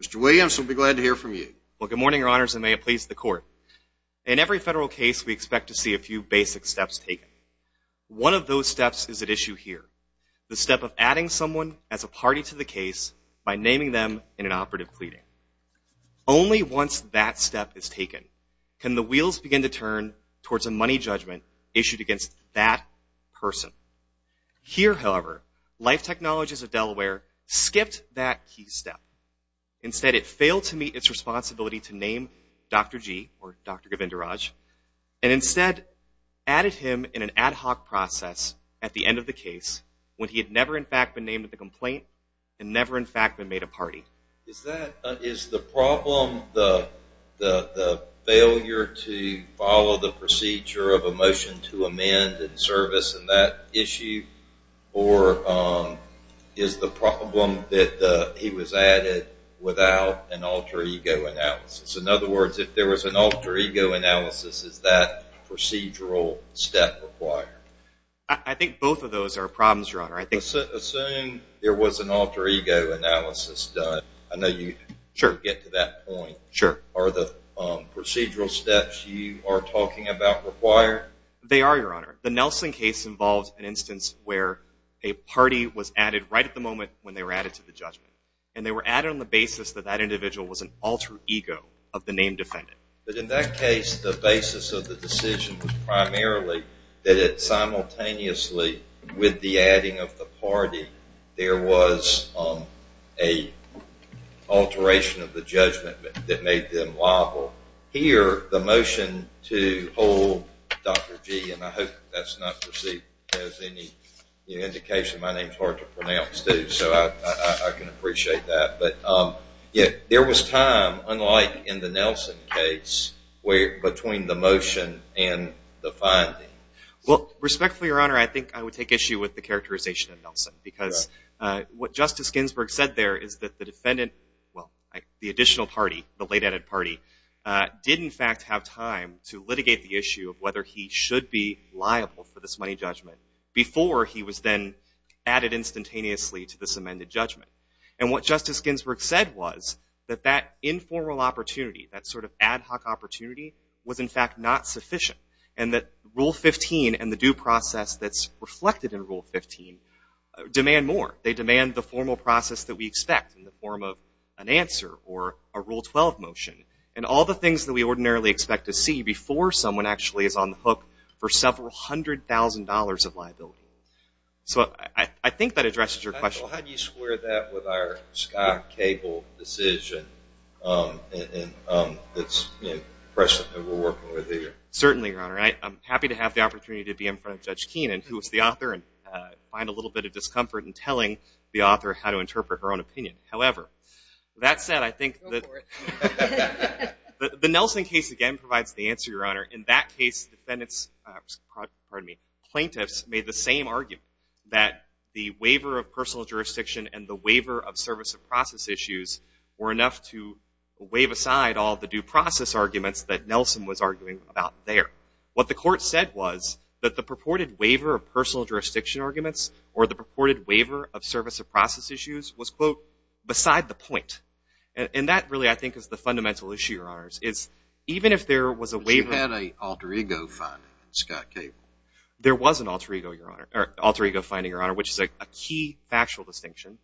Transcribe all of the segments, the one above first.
Mr. Williams, we'll be glad to hear from you. Well, good morning, your honors, and may it please the court. In every federal case, we expect to see a few basic steps taken. One of those steps is at issue here, the step of adding someone as a party to the case by naming them in an operative pleading. Only once that step is taken can the wheels begin to turn towards a money judgment issued against that person. Here, however, Life Technologies of Delaware skipped that key step. Instead, it failed to meet its responsibility to name Dr. G, or Dr. Govindaraj, and instead added him in an ad hoc process at the end of the case when he had never in fact been named at the complaint and never in fact been made a party. Is the problem the failure to follow the procedure of a motion to amend and service in that issue, or is the problem that he was added without an alter ego analysis? In other words, if there was an alter ego analysis, is that procedural step required? I think both of those are problems, your honor. Assume there was an alter ego analysis done. I know you get to that point. Sure. Are the procedural steps you are talking about required? They are, your honor. The Nelson case involves an instance where a party was added right at the moment when they were added to the judgment, and they were added on the basis that that individual was an alter ego of the named defendant. But in that case, the basis of the decision was primarily that simultaneously with the adding of the party, there was an alteration of the judgment that made them liable. Here, the motion to hold Dr. G, and I hope that is not perceived as any indication. My name is hard to pronounce too, so I can appreciate that. But there was time, unlike in the Nelson case, between the motion and the finding. Well, respectfully, your honor, I think I would take issue with the characterization of Nelson. Because what Justice Ginsburg said there is that the defendant, well, the additional party, the late added party, did in fact have time to litigate the issue of whether he should be liable for this money judgment before he was then added instantaneously to this amended judgment. And what Justice Ginsburg said was that that informal opportunity, that sort of ad hoc opportunity, was in fact not sufficient. And that Rule 15 and the due process that's reflected in Rule 15 demand more. They demand the formal process that we expect in the form of an answer or a Rule 12 motion. And all the things that we ordinarily expect to see before someone actually is on the hook for several hundred thousand dollars of liability. So I think that addresses your question. Well, how do you square that with our Scott Cable decision that's present and we're working with here? Certainly, your honor. I'm happy to have the opportunity to be in front of Judge Keenan, who is the author, and find a little bit of discomfort in telling the author how to interpret her own opinion. However, that said, I think that the Nelson case, again, provides the answer, your honor. In that case, plaintiffs made the same argument, that the waiver of personal jurisdiction and the waiver of service of process issues were enough to wave aside all the due process arguments that Nelson was arguing about there. What the court said was that the purported waiver of personal jurisdiction arguments or the purported waiver of service of process issues was, quote, beside the point. And that really, I think, is the fundamental issue, your honors. But you had an alter ego finding in Scott Cable. There was an alter ego finding, your honor, which is a key factual distinction,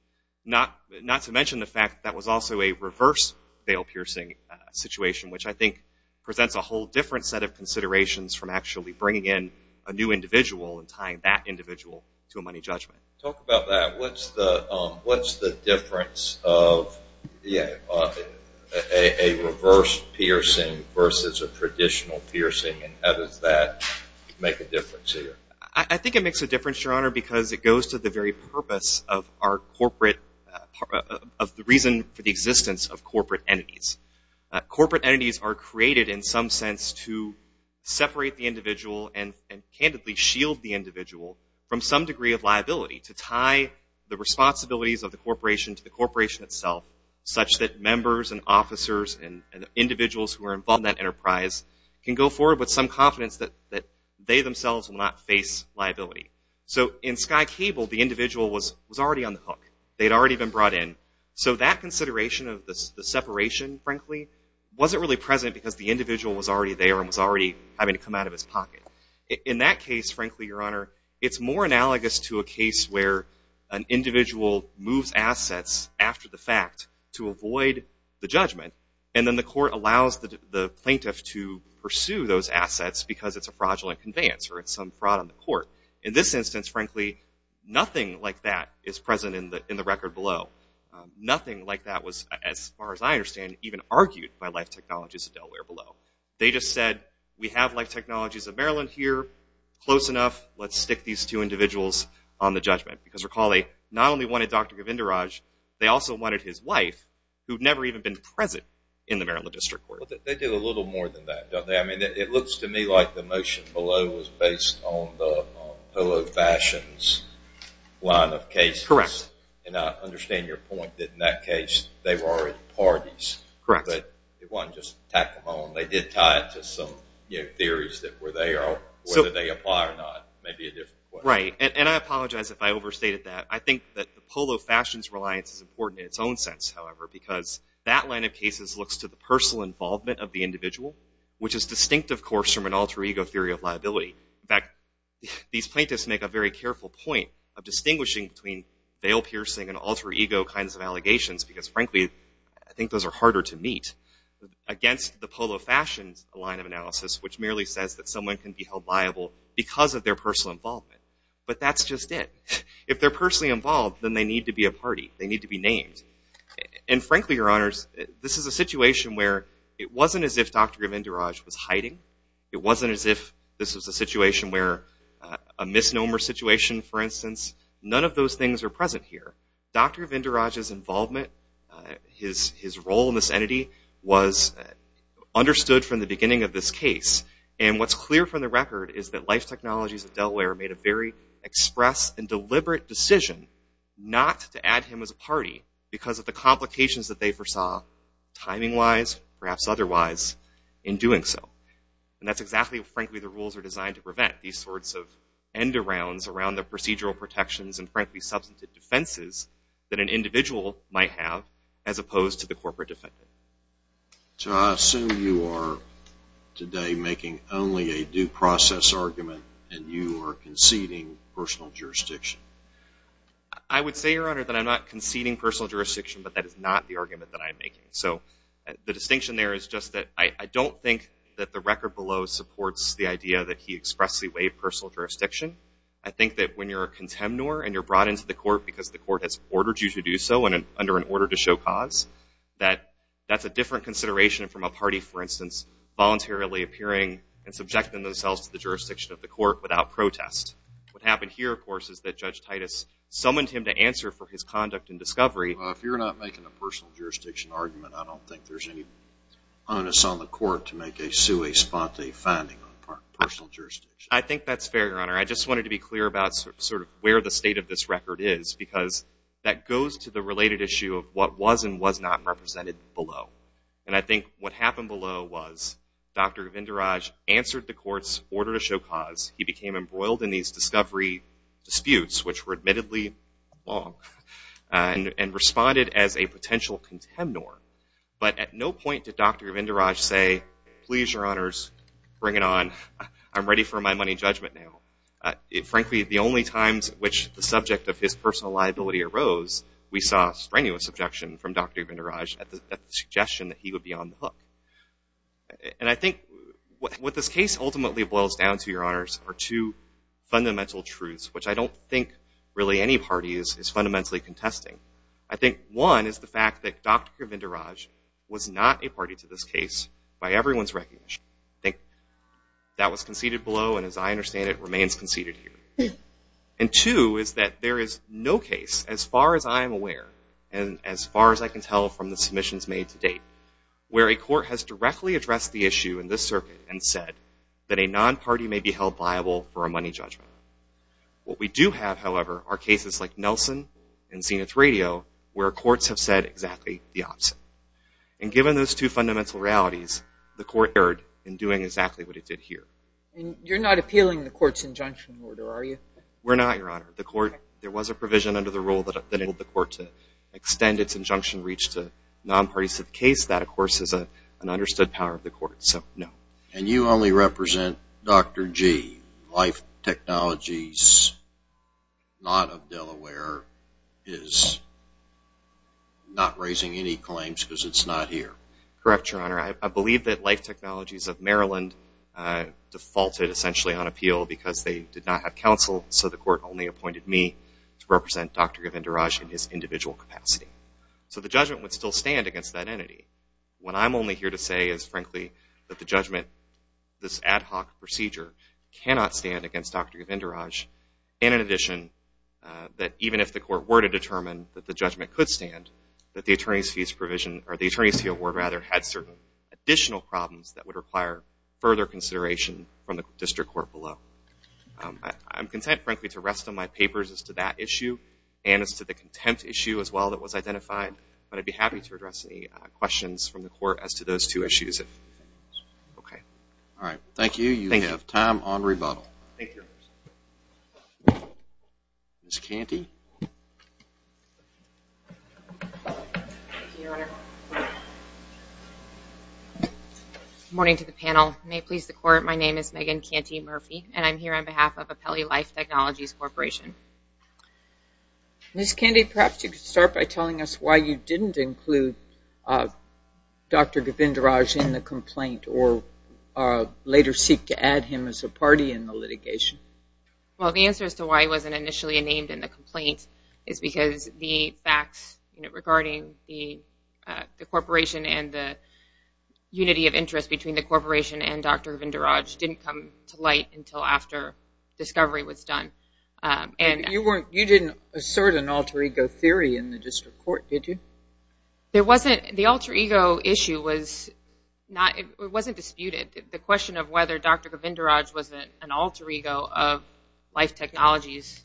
not to mention the fact that was also a reverse bail piercing situation, which I think presents a whole different set of considerations from actually bringing in a new individual and tying that individual to a money judgment. Talk about that. What's the difference of a reverse piercing versus a traditional piercing, and how does that make a difference here? I think it makes a difference, your honor, because it goes to the very purpose of the reason for the existence of corporate entities. Corporate entities are created in some sense to separate the individual and candidly shield the individual from some degree of liability, to tie the responsibilities of the corporation to the corporation itself, such that members and officers and individuals who are involved in that enterprise can go forward with some confidence that they themselves will not face liability. So in Scott Cable, the individual was already on the hook. They had already been brought in. So that consideration of the separation, frankly, wasn't really present because the individual was already there and was already having to come out of his pocket. In that case, frankly, your honor, it's more analogous to a case where an individual moves assets after the fact to avoid the judgment, and then the court allows the plaintiff to pursue those assets because it's a fraudulent conveyance or it's some fraud on the court. In this instance, frankly, nothing like that is present in the record below. Nothing like that was, as far as I understand, even argued by Life Technologies of Delaware below. They just said, we have Life Technologies of Maryland here, close enough, let's stick these two individuals on the judgment. Because recall, they not only wanted Dr. Govindaraj, they also wanted his wife, who'd never even been present in the Maryland District Court. They did a little more than that, don't they? I mean, it looks to me like the motion below was based on the pillow fashions line of cases. Correct. And I understand your point that in that case they were already parties. Correct. But they wanted to just tack them on. They did tie it to some theories that whether they apply or not may be a different question. Right, and I apologize if I overstated that. I think that the pillow fashions reliance is important in its own sense, however, because that line of cases looks to the personal involvement of the individual, which is distinct, of course, from an alter ego theory of liability. In fact, these plaintiffs make a very careful point of distinguishing between veil piercing and alter ego kinds of allegations, because frankly, I think those are harder to meet, against the pillow fashions line of analysis, which merely says that someone can be held liable because of their personal involvement. But that's just it. If they're personally involved, then they need to be a party. They need to be named. And frankly, Your Honors, this is a situation where it wasn't as if Dr. Govindaraj was hiding. It wasn't as if this was a situation where a misnomer situation, for instance. None of those things are present here. Dr. Govindaraj's involvement, his role in this entity, was understood from the beginning of this case. And what's clear from the record is that Life Technologies of Delaware made a very express and deliberate decision not to add him as a party because of the complications that they foresaw, timing-wise, perhaps otherwise, in doing so. And that's exactly, frankly, the rules are designed to prevent these sorts of end-arounds around the procedural protections and, frankly, substantive defenses that an individual might have as opposed to the corporate defendant. So I assume you are today making only a due process argument and you are conceding personal jurisdiction. I would say, Your Honor, that I'm not conceding personal jurisdiction, but that is not the argument that I'm making. So the distinction there is just that I don't think that the record below supports the idea that he expressedly waived personal jurisdiction. I think that when you're a contemnor and you're brought into the court because the court has ordered you to do so and under an order to show cause, that that's a different consideration from a party, for instance, voluntarily appearing and subjecting themselves to the jurisdiction of the court without protest. What happened here, of course, is that Judge Titus summoned him to answer for his conduct in discovery. Well, if you're not making a personal jurisdiction argument, I don't think there's any onus on the court to sue a sponte finding on personal jurisdiction. I think that's fair, Your Honor. I just wanted to be clear about sort of where the state of this record is because that goes to the related issue of what was and was not represented below. And I think what happened below was Dr. Vinderaj answered the court's order to show cause. He became embroiled in these discovery disputes, which were admittedly wrong, and responded as a potential contemnor. But at no point did Dr. Vinderaj say, please, Your Honors, bring it on. I'm ready for my money judgment now. Frankly, the only times which the subject of his personal liability arose, we saw strenuous objection from Dr. Vinderaj at the suggestion that he would be on the hook. And I think what this case ultimately boils down to, Your Honors, are two fundamental truths, which I don't think really any party is fundamentally contesting. I think one is the fact that Dr. Vinderaj was not a party to this case by everyone's recognition. I think that was conceded below, and as I understand it, remains conceded here. And two is that there is no case, as far as I am aware, and as far as I can tell from the submissions made to date, where a court has directly addressed the issue in this circuit and said that a non-party may be held viable for a money judgment. What we do have, however, are cases like Nelson and Zenith Radio, where courts have said exactly the opposite. And given those two fundamental realities, the court erred in doing exactly what it did here. And you're not appealing the court's injunction order, are you? We're not, Your Honor. The court, there was a provision under the rule that enabled the court to extend its injunction reach to non-parties to the case. That, of course, is an understood power of the court. So, no. And you only represent Dr. G. Life Technologies, not of Delaware, is not raising any claims because it's not here. Correct, Your Honor. I believe that Life Technologies of Maryland defaulted, essentially, on appeal because they did not have counsel, so the court only appointed me to represent Dr. Govindaraj in his individual capacity. So the judgment would still stand against that entity. What I'm only here to say is, frankly, that the judgment, this ad hoc procedure, cannot stand against Dr. Govindaraj. And in addition, that even if the court were to determine that the judgment could stand, that the attorney's fee award had certain additional problems that would require further consideration from the district court below. I'm content, frankly, to rest on my papers as to that issue and as to the contempt issue as well that was identified, but I'd be happy to address any questions from the court as to those two issues. Okay. All right. Thank you. You have time on rebuttal. Thank you, Your Honor. Ms. Canty. Thank you, Your Honor. Good morning to the panel. May it please the Court, my name is Megan Canty Murphy, and I'm here on behalf of Apelli Life Technologies Corporation. Ms. Canty, perhaps you could start by telling us why you didn't include Dr. Govindaraj in the complaint or later seek to add him as a party in the litigation. Well, the answer as to why he wasn't initially named in the complaint is because the facts regarding the corporation and the unity of interest between the corporation and Dr. Govindaraj didn't come to light until after discovery was done. You didn't assert an alter ego theory in the district court, did you? The alter ego issue wasn't disputed. The question of whether Dr. Govindaraj was an alter ego of Life Technologies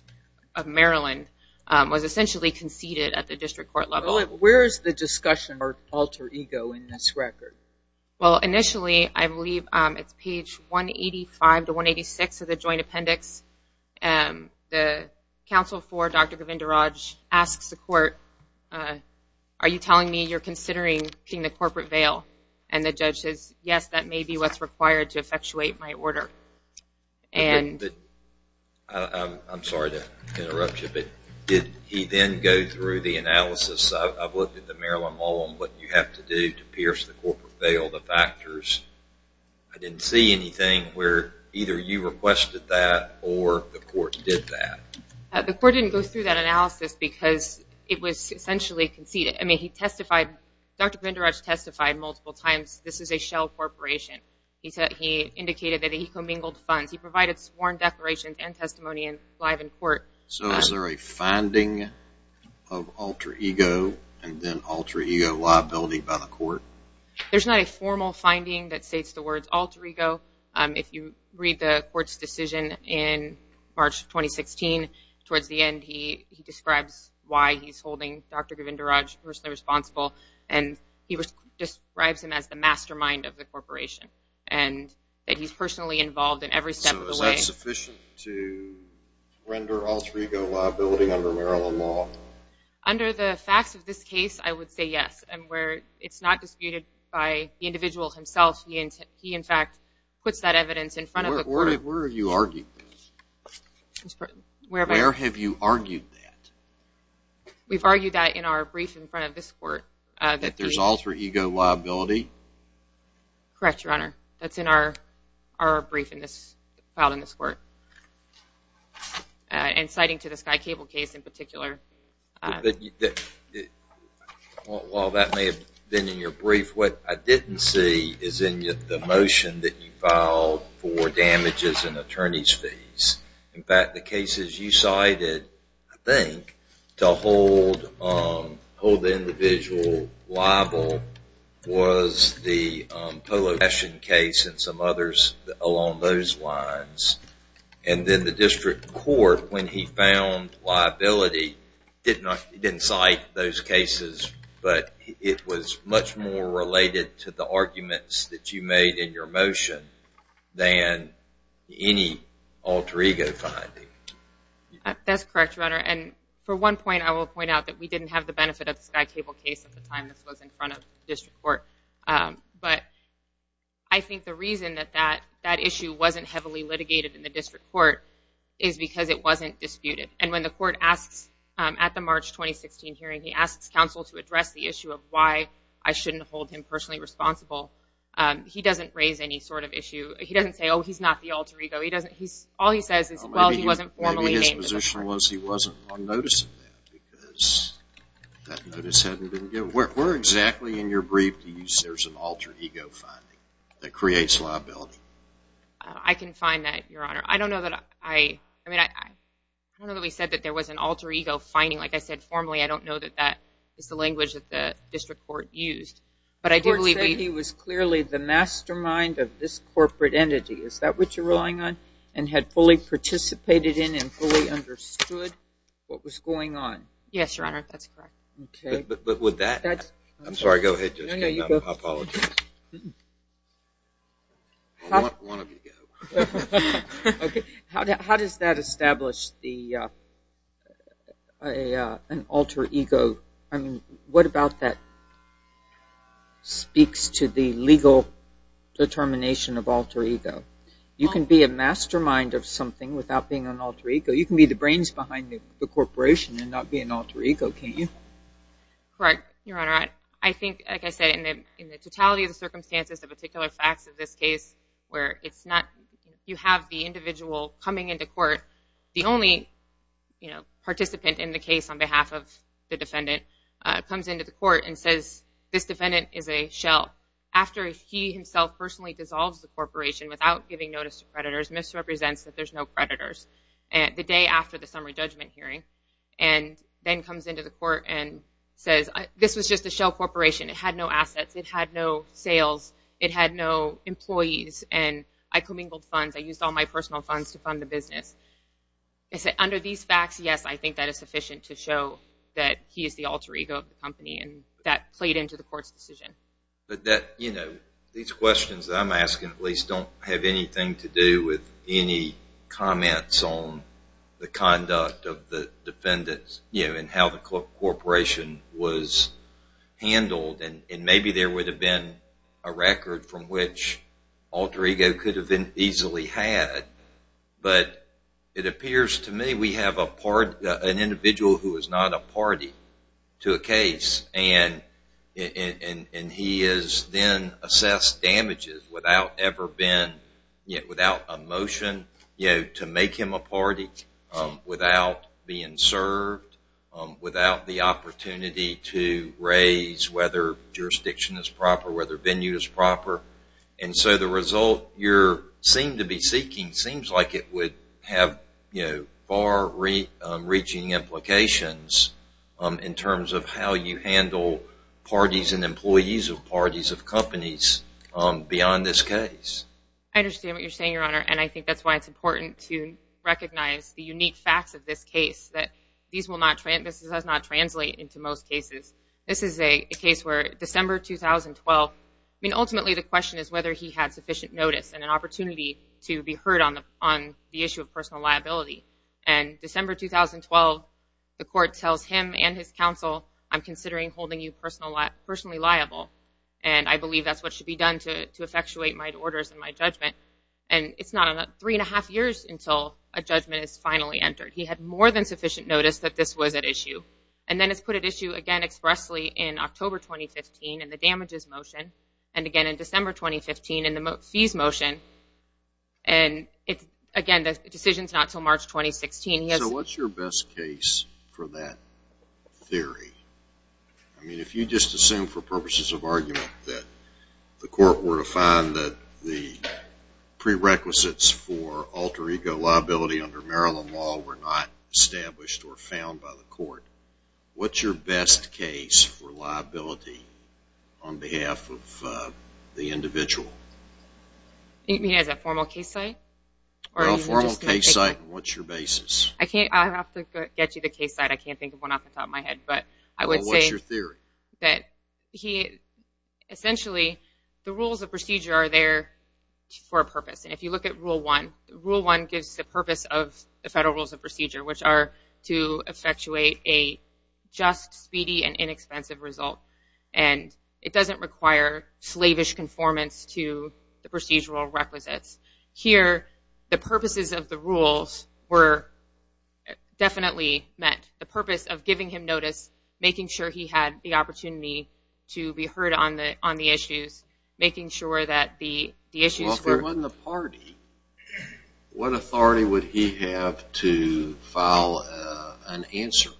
of Maryland was essentially conceded at the district court level. Where is the discussion of alter ego in this record? Well, initially, I believe it's page 185 to 186 of the joint appendix. The counsel for Dr. Govindaraj asks the court, are you telling me you're considering pitting the corporate veil? And the judge says, yes, that may be what's required to effectuate my order. I'm sorry to interrupt you, but did he then go through the analysis? I've looked at the Maryland law on what you have to do to pierce the corporate veil, the factors. I didn't see anything where either you requested that or the court did that. The court didn't go through that analysis because it was essentially conceded. I mean, he testified, Dr. Govindaraj testified multiple times this is a shell corporation. He indicated that he commingled funds. He provided sworn declarations and testimony live in court. So is there a finding of alter ego and then alter ego liability by the court? There's not a formal finding that states the words alter ego. If you read the court's decision in March of 2016, towards the end, he describes why he's holding Dr. Govindaraj personally responsible, and he describes him as the mastermind of the corporation and that he's personally involved in every step of the way. Is that sufficient to render alter ego liability under Maryland law? Under the facts of this case, I would say yes. And where it's not disputed by the individual himself, he in fact puts that evidence in front of the court. Where are you arguing this? Where have you argued that? We've argued that in our brief in front of this court. That there's alter ego liability? Correct, Your Honor. That's in our brief filed in this court. And citing to the Sky Cable case in particular. While that may have been in your brief, what I didn't see is in the motion that you filed for damages and attorney's fees. In fact, the cases you cited, I think, to hold the individual liable was the Polo fashion case and some others along those lines. And then the district court, when he found liability, didn't cite those cases, but it was much more related to the arguments that you made in your motion than any alter ego finding. That's correct, Your Honor. And for one point, I will point out that we didn't have the benefit of the Sky Cable case at the time this was in front of the district court. But I think the reason that that issue wasn't heavily litigated in the district court is because it wasn't disputed. And when the court asks at the March 2016 hearing, he asks counsel to address the issue of why I shouldn't hold him personally responsible, he doesn't raise any sort of issue. He doesn't say, oh, he's not the alter ego. All he says is, well, he wasn't formally named the alter ego. Maybe his position was he wasn't on notice of that because that notice hadn't been given. Where exactly in your brief do you say there's an alter ego finding that creates liability? I can find that, Your Honor. I don't know that I said that there was an alter ego finding. Like I said, formally, I don't know that that is the language that the district court used. The court said he was clearly the mastermind of this corporate entity. Is that what you're relying on? And had fully participated in and fully understood what was going on? Yes, Your Honor. That's correct. Okay. I'm sorry. Go ahead. I apologize. One of you go. Okay. How does that establish an alter ego? What about that speaks to the legal determination of alter ego? You can be a mastermind of something without being an alter ego. You can be the brains behind the corporation and not be an alter ego, can't you? Correct, Your Honor. I think, like I said, in the totality of the circumstances, the particular facts of this case where you have the individual coming into court, the only participant in the case on behalf of the defendant comes into the court and says this defendant is a shell. After he himself personally dissolves the corporation without giving notice to creditors, misrepresents that there's no creditors the day after the summary judgment hearing and then comes into the court and says this was just a shell corporation. It had no assets. It had no sales. It had no employees. And I commingled funds. I used all my personal funds to fund the business. Under these facts, yes, I think that is sufficient to show that he is the alter ego of the company and that played into the court's decision. These questions that I'm asking at least don't have anything to do with any comments on the conduct of the defendants and how the corporation was handled. And maybe there would have been a record from which alter ego could have been easily had. But it appears to me we have an individual who is not a party to a case. And he is then assessed damages without ever been, without a motion to make him a party, without being served, without the opportunity to raise whether jurisdiction is proper, whether venue is proper. And so the result you seem to be seeking seems like it would have far reaching implications in terms of how you handle parties and employees of parties of companies beyond this case. And I think that's why it's important to recognize the unique facts of this case, that this does not translate into most cases. This is a case where December 2012, I mean, ultimately the question is whether he had sufficient notice and an opportunity to be heard on the issue of personal liability. And December 2012, the court tells him and his counsel, I'm considering holding you personally liable. And I believe that's what should be done to effectuate my orders and my judgment. And it's not three and a half years until a judgment is finally entered. He had more than sufficient notice that this was at issue. And then it's put at issue again expressly in October 2015 in the damages motion, and again in December 2015 in the fees motion. And again, the decision is not until March 2016. So what's your best case for that theory? I mean, if you just assume for purposes of argument that the court were to find that the prerequisites for alter ego liability under Maryland law were not established or found by the court, what's your best case for liability on behalf of the individual? You mean as a formal case site? Well, a formal case site, and what's your basis? I'll have to get you the case site. I can't think of one off the top of my head. Well, what's your theory? Essentially, the rules of procedure are there for a purpose. And if you look at Rule 1, Rule 1 gives the purpose of the federal rules of procedure, which are to effectuate a just, speedy, and inexpensive result. And it doesn't require slavish conformance to the procedural requisites. Here, the purposes of the rules were definitely met. The purpose of giving him notice, making sure he had the opportunity to be heard on the issues, making sure that the issues were... Well, if it wasn't the party, what authority would he have to file an answer?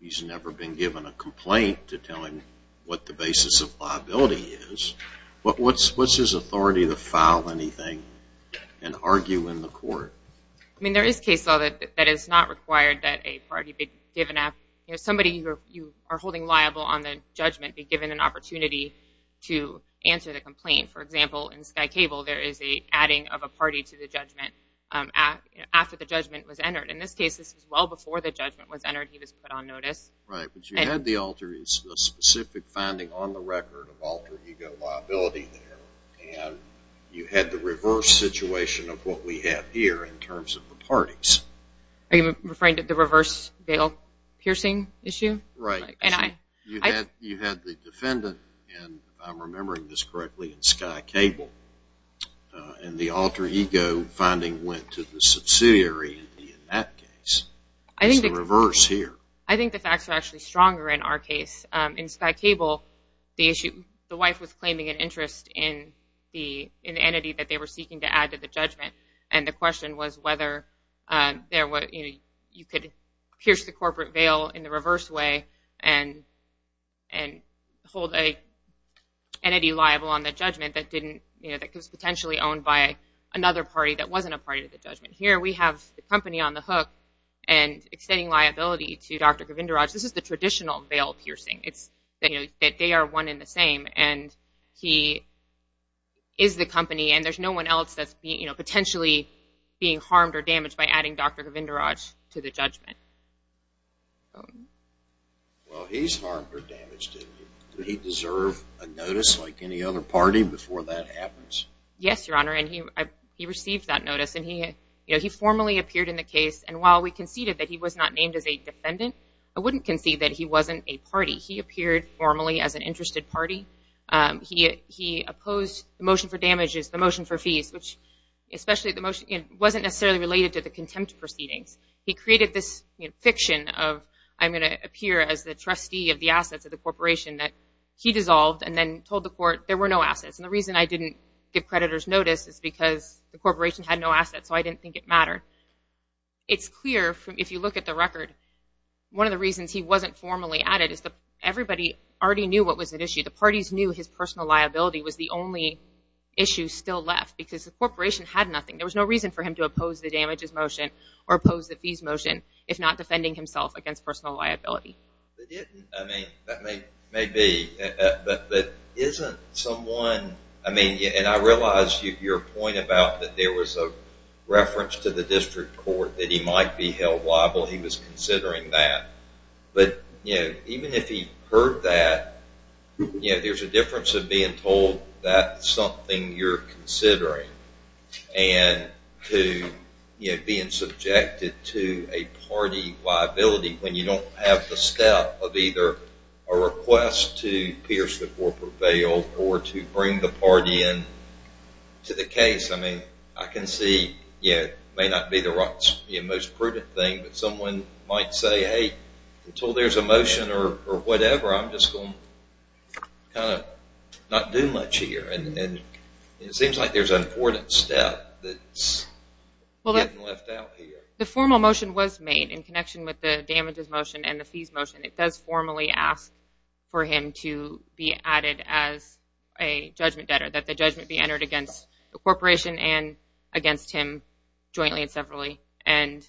He's never been given a complaint to tell him what the basis of liability is. What's his authority to file anything and argue in the court? I mean, there is case law that is not required that a party be given... Somebody you are holding liable on the judgment be given an opportunity to answer the complaint. For example, in Sky Cable, there is an adding of a party to the judgment after the judgment was entered. In this case, this was well before the judgment was entered. He was put on notice. Right, but you had the alter. It's a specific finding on the record of alter ego liability there. You had the reverse situation of what we have here in terms of the parties. Are you referring to the reverse bail piercing issue? Right. You had the defendant, and if I'm remembering this correctly, in Sky Cable, and the alter ego finding went to the subsidiary in that case. It's the reverse here. I think the facts are actually stronger in our case. In Sky Cable, the wife was claiming an interest in the entity that they were seeking to add to the judgment, and the question was whether you could pierce the corporate bail in the reverse way and hold an entity liable on the judgment that was potentially owned by another party that wasn't a party to the judgment. Here we have the company on the hook and extending liability to Dr. Govindaraj. This is the traditional bail piercing. They are one and the same, and he is the company, and there's no one else that's potentially being harmed or damaged by adding Dr. Govindaraj to the judgment. Well, he's harmed or damaged. Did he deserve a notice like any other party before that happens? Yes, Your Honor, and he received that notice, and he formally appeared in the case, and while we conceded that he was not named as a defendant, I wouldn't concede that he wasn't a party. He appeared formally as an interested party. He opposed the motion for damages, the motion for fees, which wasn't necessarily related to the contempt proceedings. He created this fiction of I'm going to appear as the trustee of the assets of the corporation that he dissolved and then told the court there were no assets, and the reason I didn't give creditors notice is because the corporation had no assets, so I didn't think it mattered. It's clear if you look at the record. One of the reasons he wasn't formally added is that everybody already knew what was at issue. The parties knew his personal liability was the only issue still left because the corporation had nothing. There was no reason for him to oppose the damages motion or oppose the fees motion if not defending himself against personal liability. That may be, but isn't someone, and I realize your point about that there was a reference to the district court that he might be held liable. He was considering that, but even if he heard that, there's a difference of being told that's something you're considering and being subjected to a party liability when you don't have the step of either a request to pierce the corporate veil or to bring the party in to the case. I mean, I can see it may not be the most prudent thing, but someone might say, hey, until there's a motion or whatever, I'm just going to kind of not do much here, and it seems like there's an important step that's getting left out here. The formal motion was made in connection with the damages motion and the fees motion. It does formally ask for him to be added as a judgment debtor, that the judgment be entered against the corporation and against him jointly and separately, and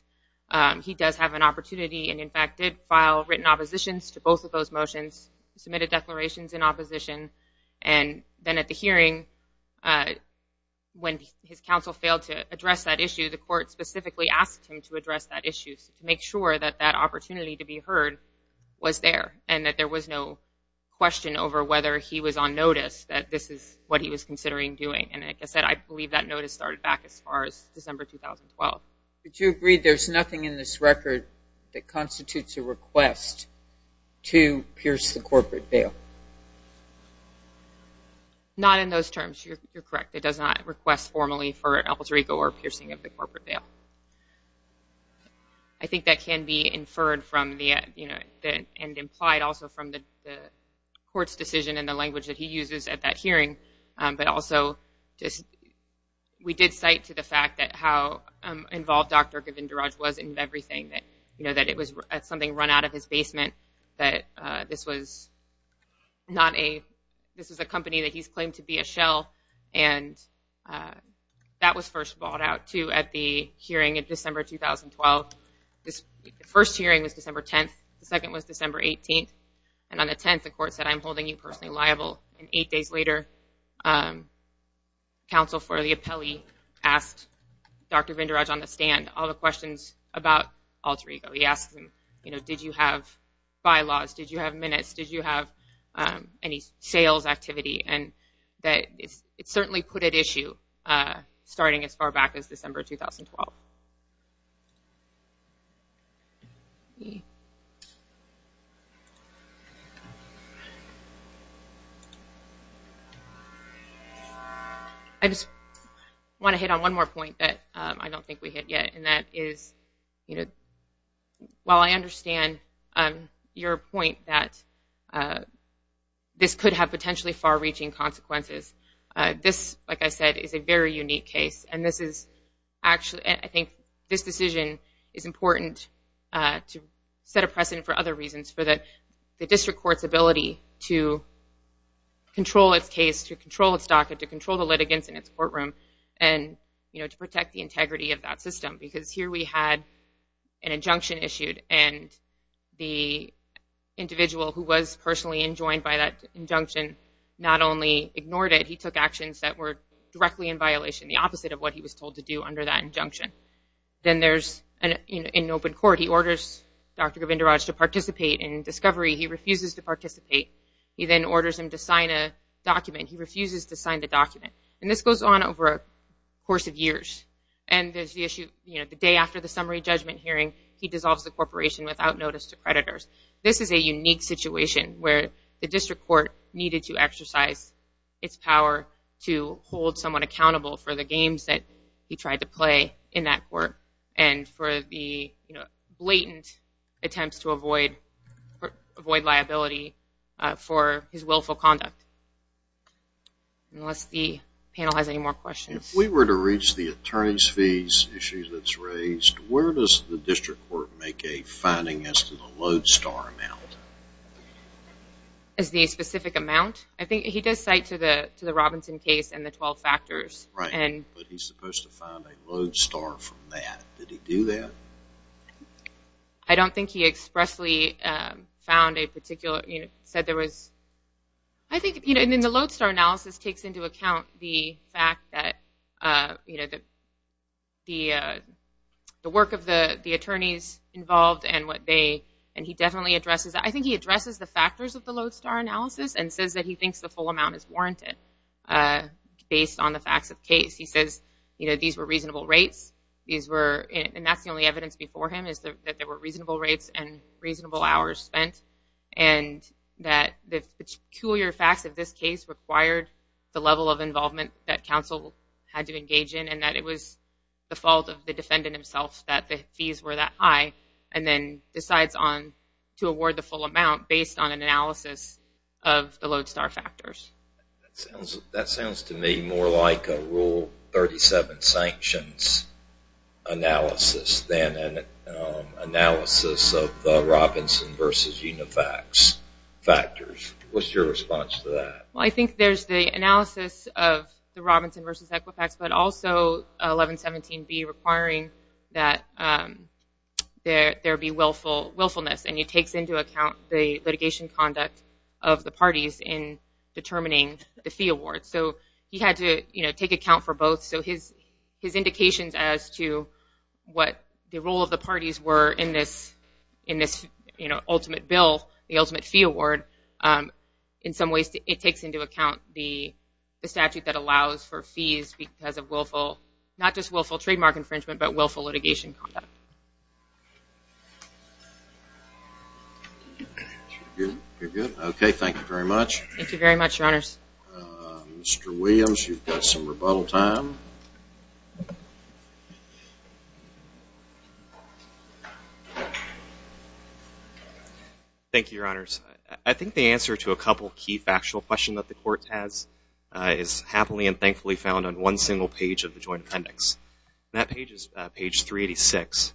he does have an opportunity and, in fact, did file written oppositions to both of those motions, submitted declarations in opposition, and then at the hearing, when his counsel failed to address that issue, the court specifically asked him to address that issue to make sure that that opportunity to be heard was there and that there was no question over whether he was on notice that this is what he was considering doing, and like I said, I believe that notice started back as far as December 2012. Did you agree there's nothing in this record that constitutes a request to pierce the corporate bail? Not in those terms. You're correct. It does not request formally for El Dorigo or piercing of the corporate bail. I think that can be inferred from and implied also from the court's decision and the language that he uses at that hearing, but also we did cite to the fact that how involved Dr. Govindaraj was in everything, that it was something run out of his basement, that this was a company that he's claimed to be a shell, and that was first brought out, too, at the hearing in December 2012. The first hearing was December 10th. The second was December 18th, and on the 10th, the court said, I'm holding you personally liable, and eight days later, counsel for the appellee asked Dr. Govindaraj on the stand all the questions about El Dorigo. He asked him, you know, did you have bylaws? Did you have minutes? Did you have any sales activity? It certainly put at issue starting as far back as December 2012. I just want to hit on one more point that I don't think we hit yet, and that is, you know, while I understand your point that this could have potentially far-reaching consequences, this, like I said, is a very unique case, and I think this decision is important to set a precedent for other reasons, for the district court's ability to control its case, to control its docket, to control the litigants in its courtroom, and to protect the integrity of that system, because here we had an injunction issued, and the individual who was personally enjoined by that injunction not only ignored it, he took actions that were directly in violation, the opposite of what he was told to do under that injunction. Then there's, in open court, he orders Dr. Govindaraj to participate in discovery. He refuses to participate. He then orders him to sign a document. He refuses to sign the document, and this goes on over a course of years, and there's the issue, you know, the day after the summary judgment hearing, he dissolves the corporation without notice to creditors. This is a unique situation where the district court needed to exercise its power to hold someone accountable for the games that he tried to play in that court and for the, you know, blatant attempts to avoid liability for his willful conduct. Unless the panel has any more questions. If we were to reach the attorneys fees issue that's raised, where does the district court make a finding as to the lodestar amount? As the specific amount? I think he does cite to the Robinson case and the 12 factors. Right, but he's supposed to find a lodestar from that. Did he do that? I don't think he expressly found a particular, you know, said there was. I think, you know, in the lodestar analysis takes into account the fact that, you know, the work of the attorneys involved and what they, and he definitely addresses that. I think he addresses the factors of the lodestar analysis and says that he thinks the full amount is warranted based on the facts of the case. He says, you know, these were reasonable rates. These were, and that's the only evidence before him, is that there were reasonable rates and reasonable hours spent and that the peculiar facts of this case required the level of involvement that counsel had to engage in and that it was the fault of the defendant himself that the fees were that high and then decides on to award the full amount based on an analysis of the lodestar factors. That sounds to me more like a Rule 37 sanctions analysis than an analysis of the Robinson v. Unifax factors. What's your response to that? Well, I think there's the analysis of the Robinson v. Equifax but also 1117B requiring that there be willfulness and he takes into account the litigation conduct of the parties in determining the fee award. So he had to, you know, take account for both. So his indications as to what the role of the parties were in this, you know, ultimate bill, the ultimate fee award, in some ways it takes into account the statute that allows for fees because of willful, not just willful trademark infringement, but willful litigation conduct. You're good? Okay, thank you very much. Thank you very much, Your Honors. Mr. Williams, you've got some rebuttal time. Thank you, Your Honors. I think the answer to a couple key factual questions that the Court has is happily and thankfully found on one single page of the Joint Appendix. That page is page 386.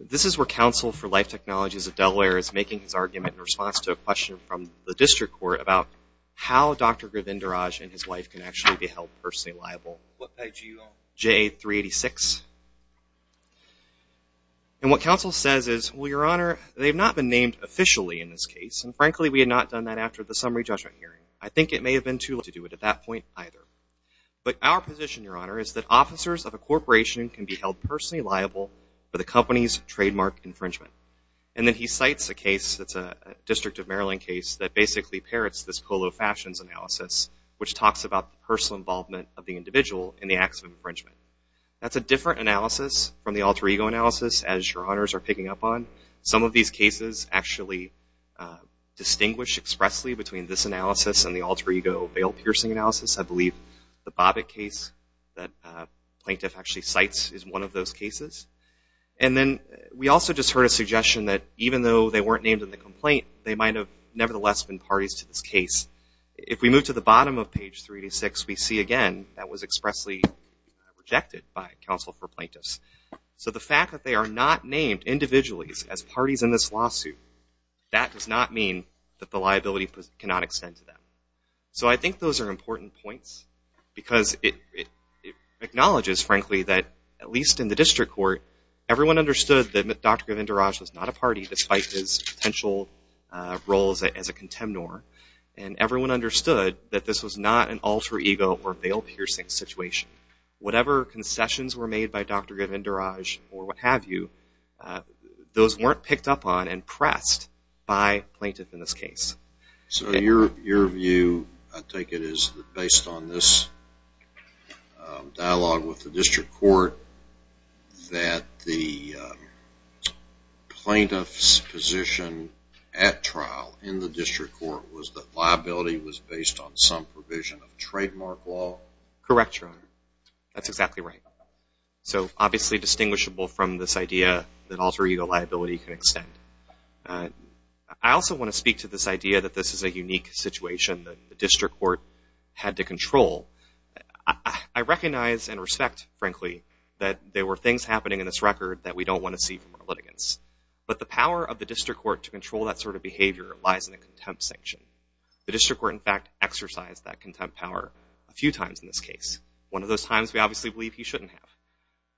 This is where Counsel for Life Technologies of Delaware is making his argument in response to a question from the District Court about how Dr. Govindaraj and his wife can actually be held personally liable. What page are you on? J386. And what Counsel says is, well, Your Honor, they've not been named officially in this case, and frankly we had not done that after the summary judgment hearing. I think it may have been too late to do it at that point either. But our position, Your Honor, is that officers of a corporation can be held personally liable for the company's trademark infringement. And then he cites a case that's a District of Maryland case that basically parrots this Polo Fashions analysis, which talks about the personal involvement of the individual in the acts of infringement. That's a different analysis from the alter ego analysis, as Your Honors are picking up on. Some of these cases actually distinguish expressly between this analysis and the alter ego bail-piercing analysis. I believe the Bobbitt case that Plaintiff actually cites is one of those cases. And then we also just heard a suggestion that even though they weren't named in the complaint, they might have nevertheless been parties to this case. If we move to the bottom of page 386, we see again that was expressly rejected by counsel for plaintiffs. So the fact that they are not named individually as parties in this lawsuit, that does not mean that the liability cannot extend to them. At least in the District Court, everyone understood that Dr. Govindaraj was not a party, despite his potential role as a contemnor. And everyone understood that this was not an alter ego or bail-piercing situation. Whatever concessions were made by Dr. Govindaraj or what have you, those weren't picked up on and pressed by plaintiffs in this case. So your view, I take it, is that based on this dialogue with the District Court, that the plaintiff's position at trial in the District Court was that liability was based on some provision of trademark law? Correct, Your Honor. That's exactly right. So obviously distinguishable from this idea that alter ego liability can extend. I also want to speak to this idea that this is a unique situation that the District Court had to control. I recognize and respect, frankly, that there were things happening in this record that we don't want to see from our litigants. But the power of the District Court to control that sort of behavior lies in the contempt sanction. The District Court, in fact, exercised that contempt power a few times in this case. One of those times we obviously believe he shouldn't have.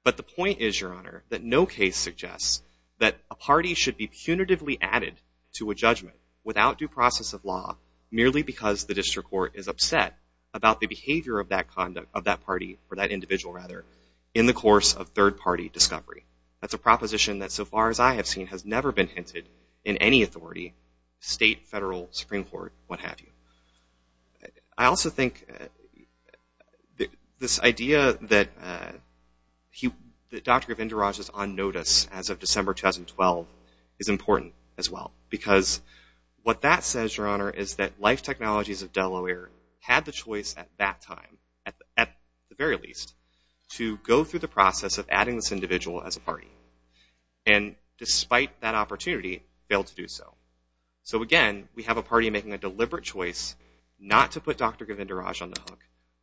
But the point is, Your Honor, that no case suggests that a party should be punitively added to a judgment without due process of law merely because the District Court is upset about the behavior of that party, or that individual rather, in the course of third party discovery. That's a proposition that so far as I have seen has never been hinted in any authority, state, federal, Supreme Court, what have you. I also think this idea that Dr. Govindaraj is on notice as of December 2012 is important as well. Because what that says, Your Honor, is that Life Technologies of Delaware had the choice at that time, at the very least, to go through the process of adding this individual as a party. And despite that opportunity, failed to do so. So again, we have a party making a deliberate choice not to put Dr. Govindaraj on the hook,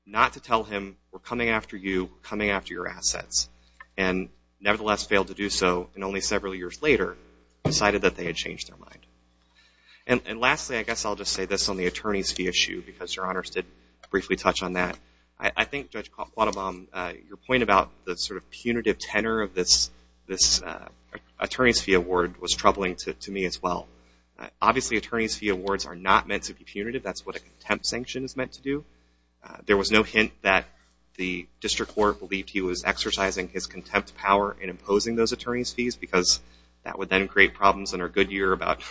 not to tell him, we're coming after you, we're coming after your assets, and nevertheless failed to do so, and only several years later decided that they had changed their mind. And lastly, I guess I'll just say this on the attorney's fee issue, because Your Honors did briefly touch on that. I think, Judge Quattlebaum, your point about the sort of punitive tenor of this attorney's fee award was troubling to me as well. Obviously, attorney's fee awards are not meant to be punitive. That's what a contempt sanction is meant to do. There was no hint that the District Court believed he was exercising his contempt power in imposing those attorney's fees, because that would then create problems in our good year about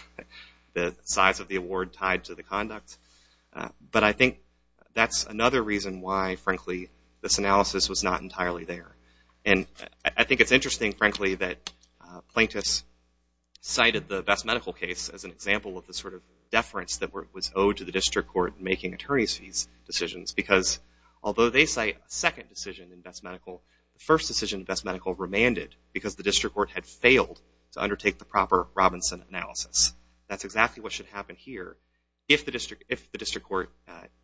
the size of the award tied to the conduct. But I think that's another reason why, frankly, this analysis was not entirely there. And I think it's interesting, frankly, that Plaintiffs cited the Best Medical case as an example of the sort of deference that was owed to the District Court in making attorney's fees decisions, because although they cite a second decision in Best Medical, the first decision in Best Medical remanded because the District Court had failed to undertake the proper Robinson analysis. That's exactly what should happen here if the District Court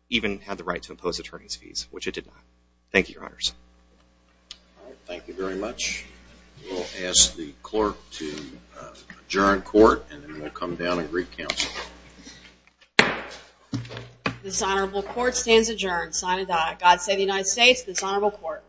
even had the right to impose attorney's fees, which it did not. Thank you, Your Honors. Thank you very much. We'll ask the clerk to adjourn court, and then we'll come down and re-counsel. This honorable court stands adjourned, sine die. God save the United States, this honorable court.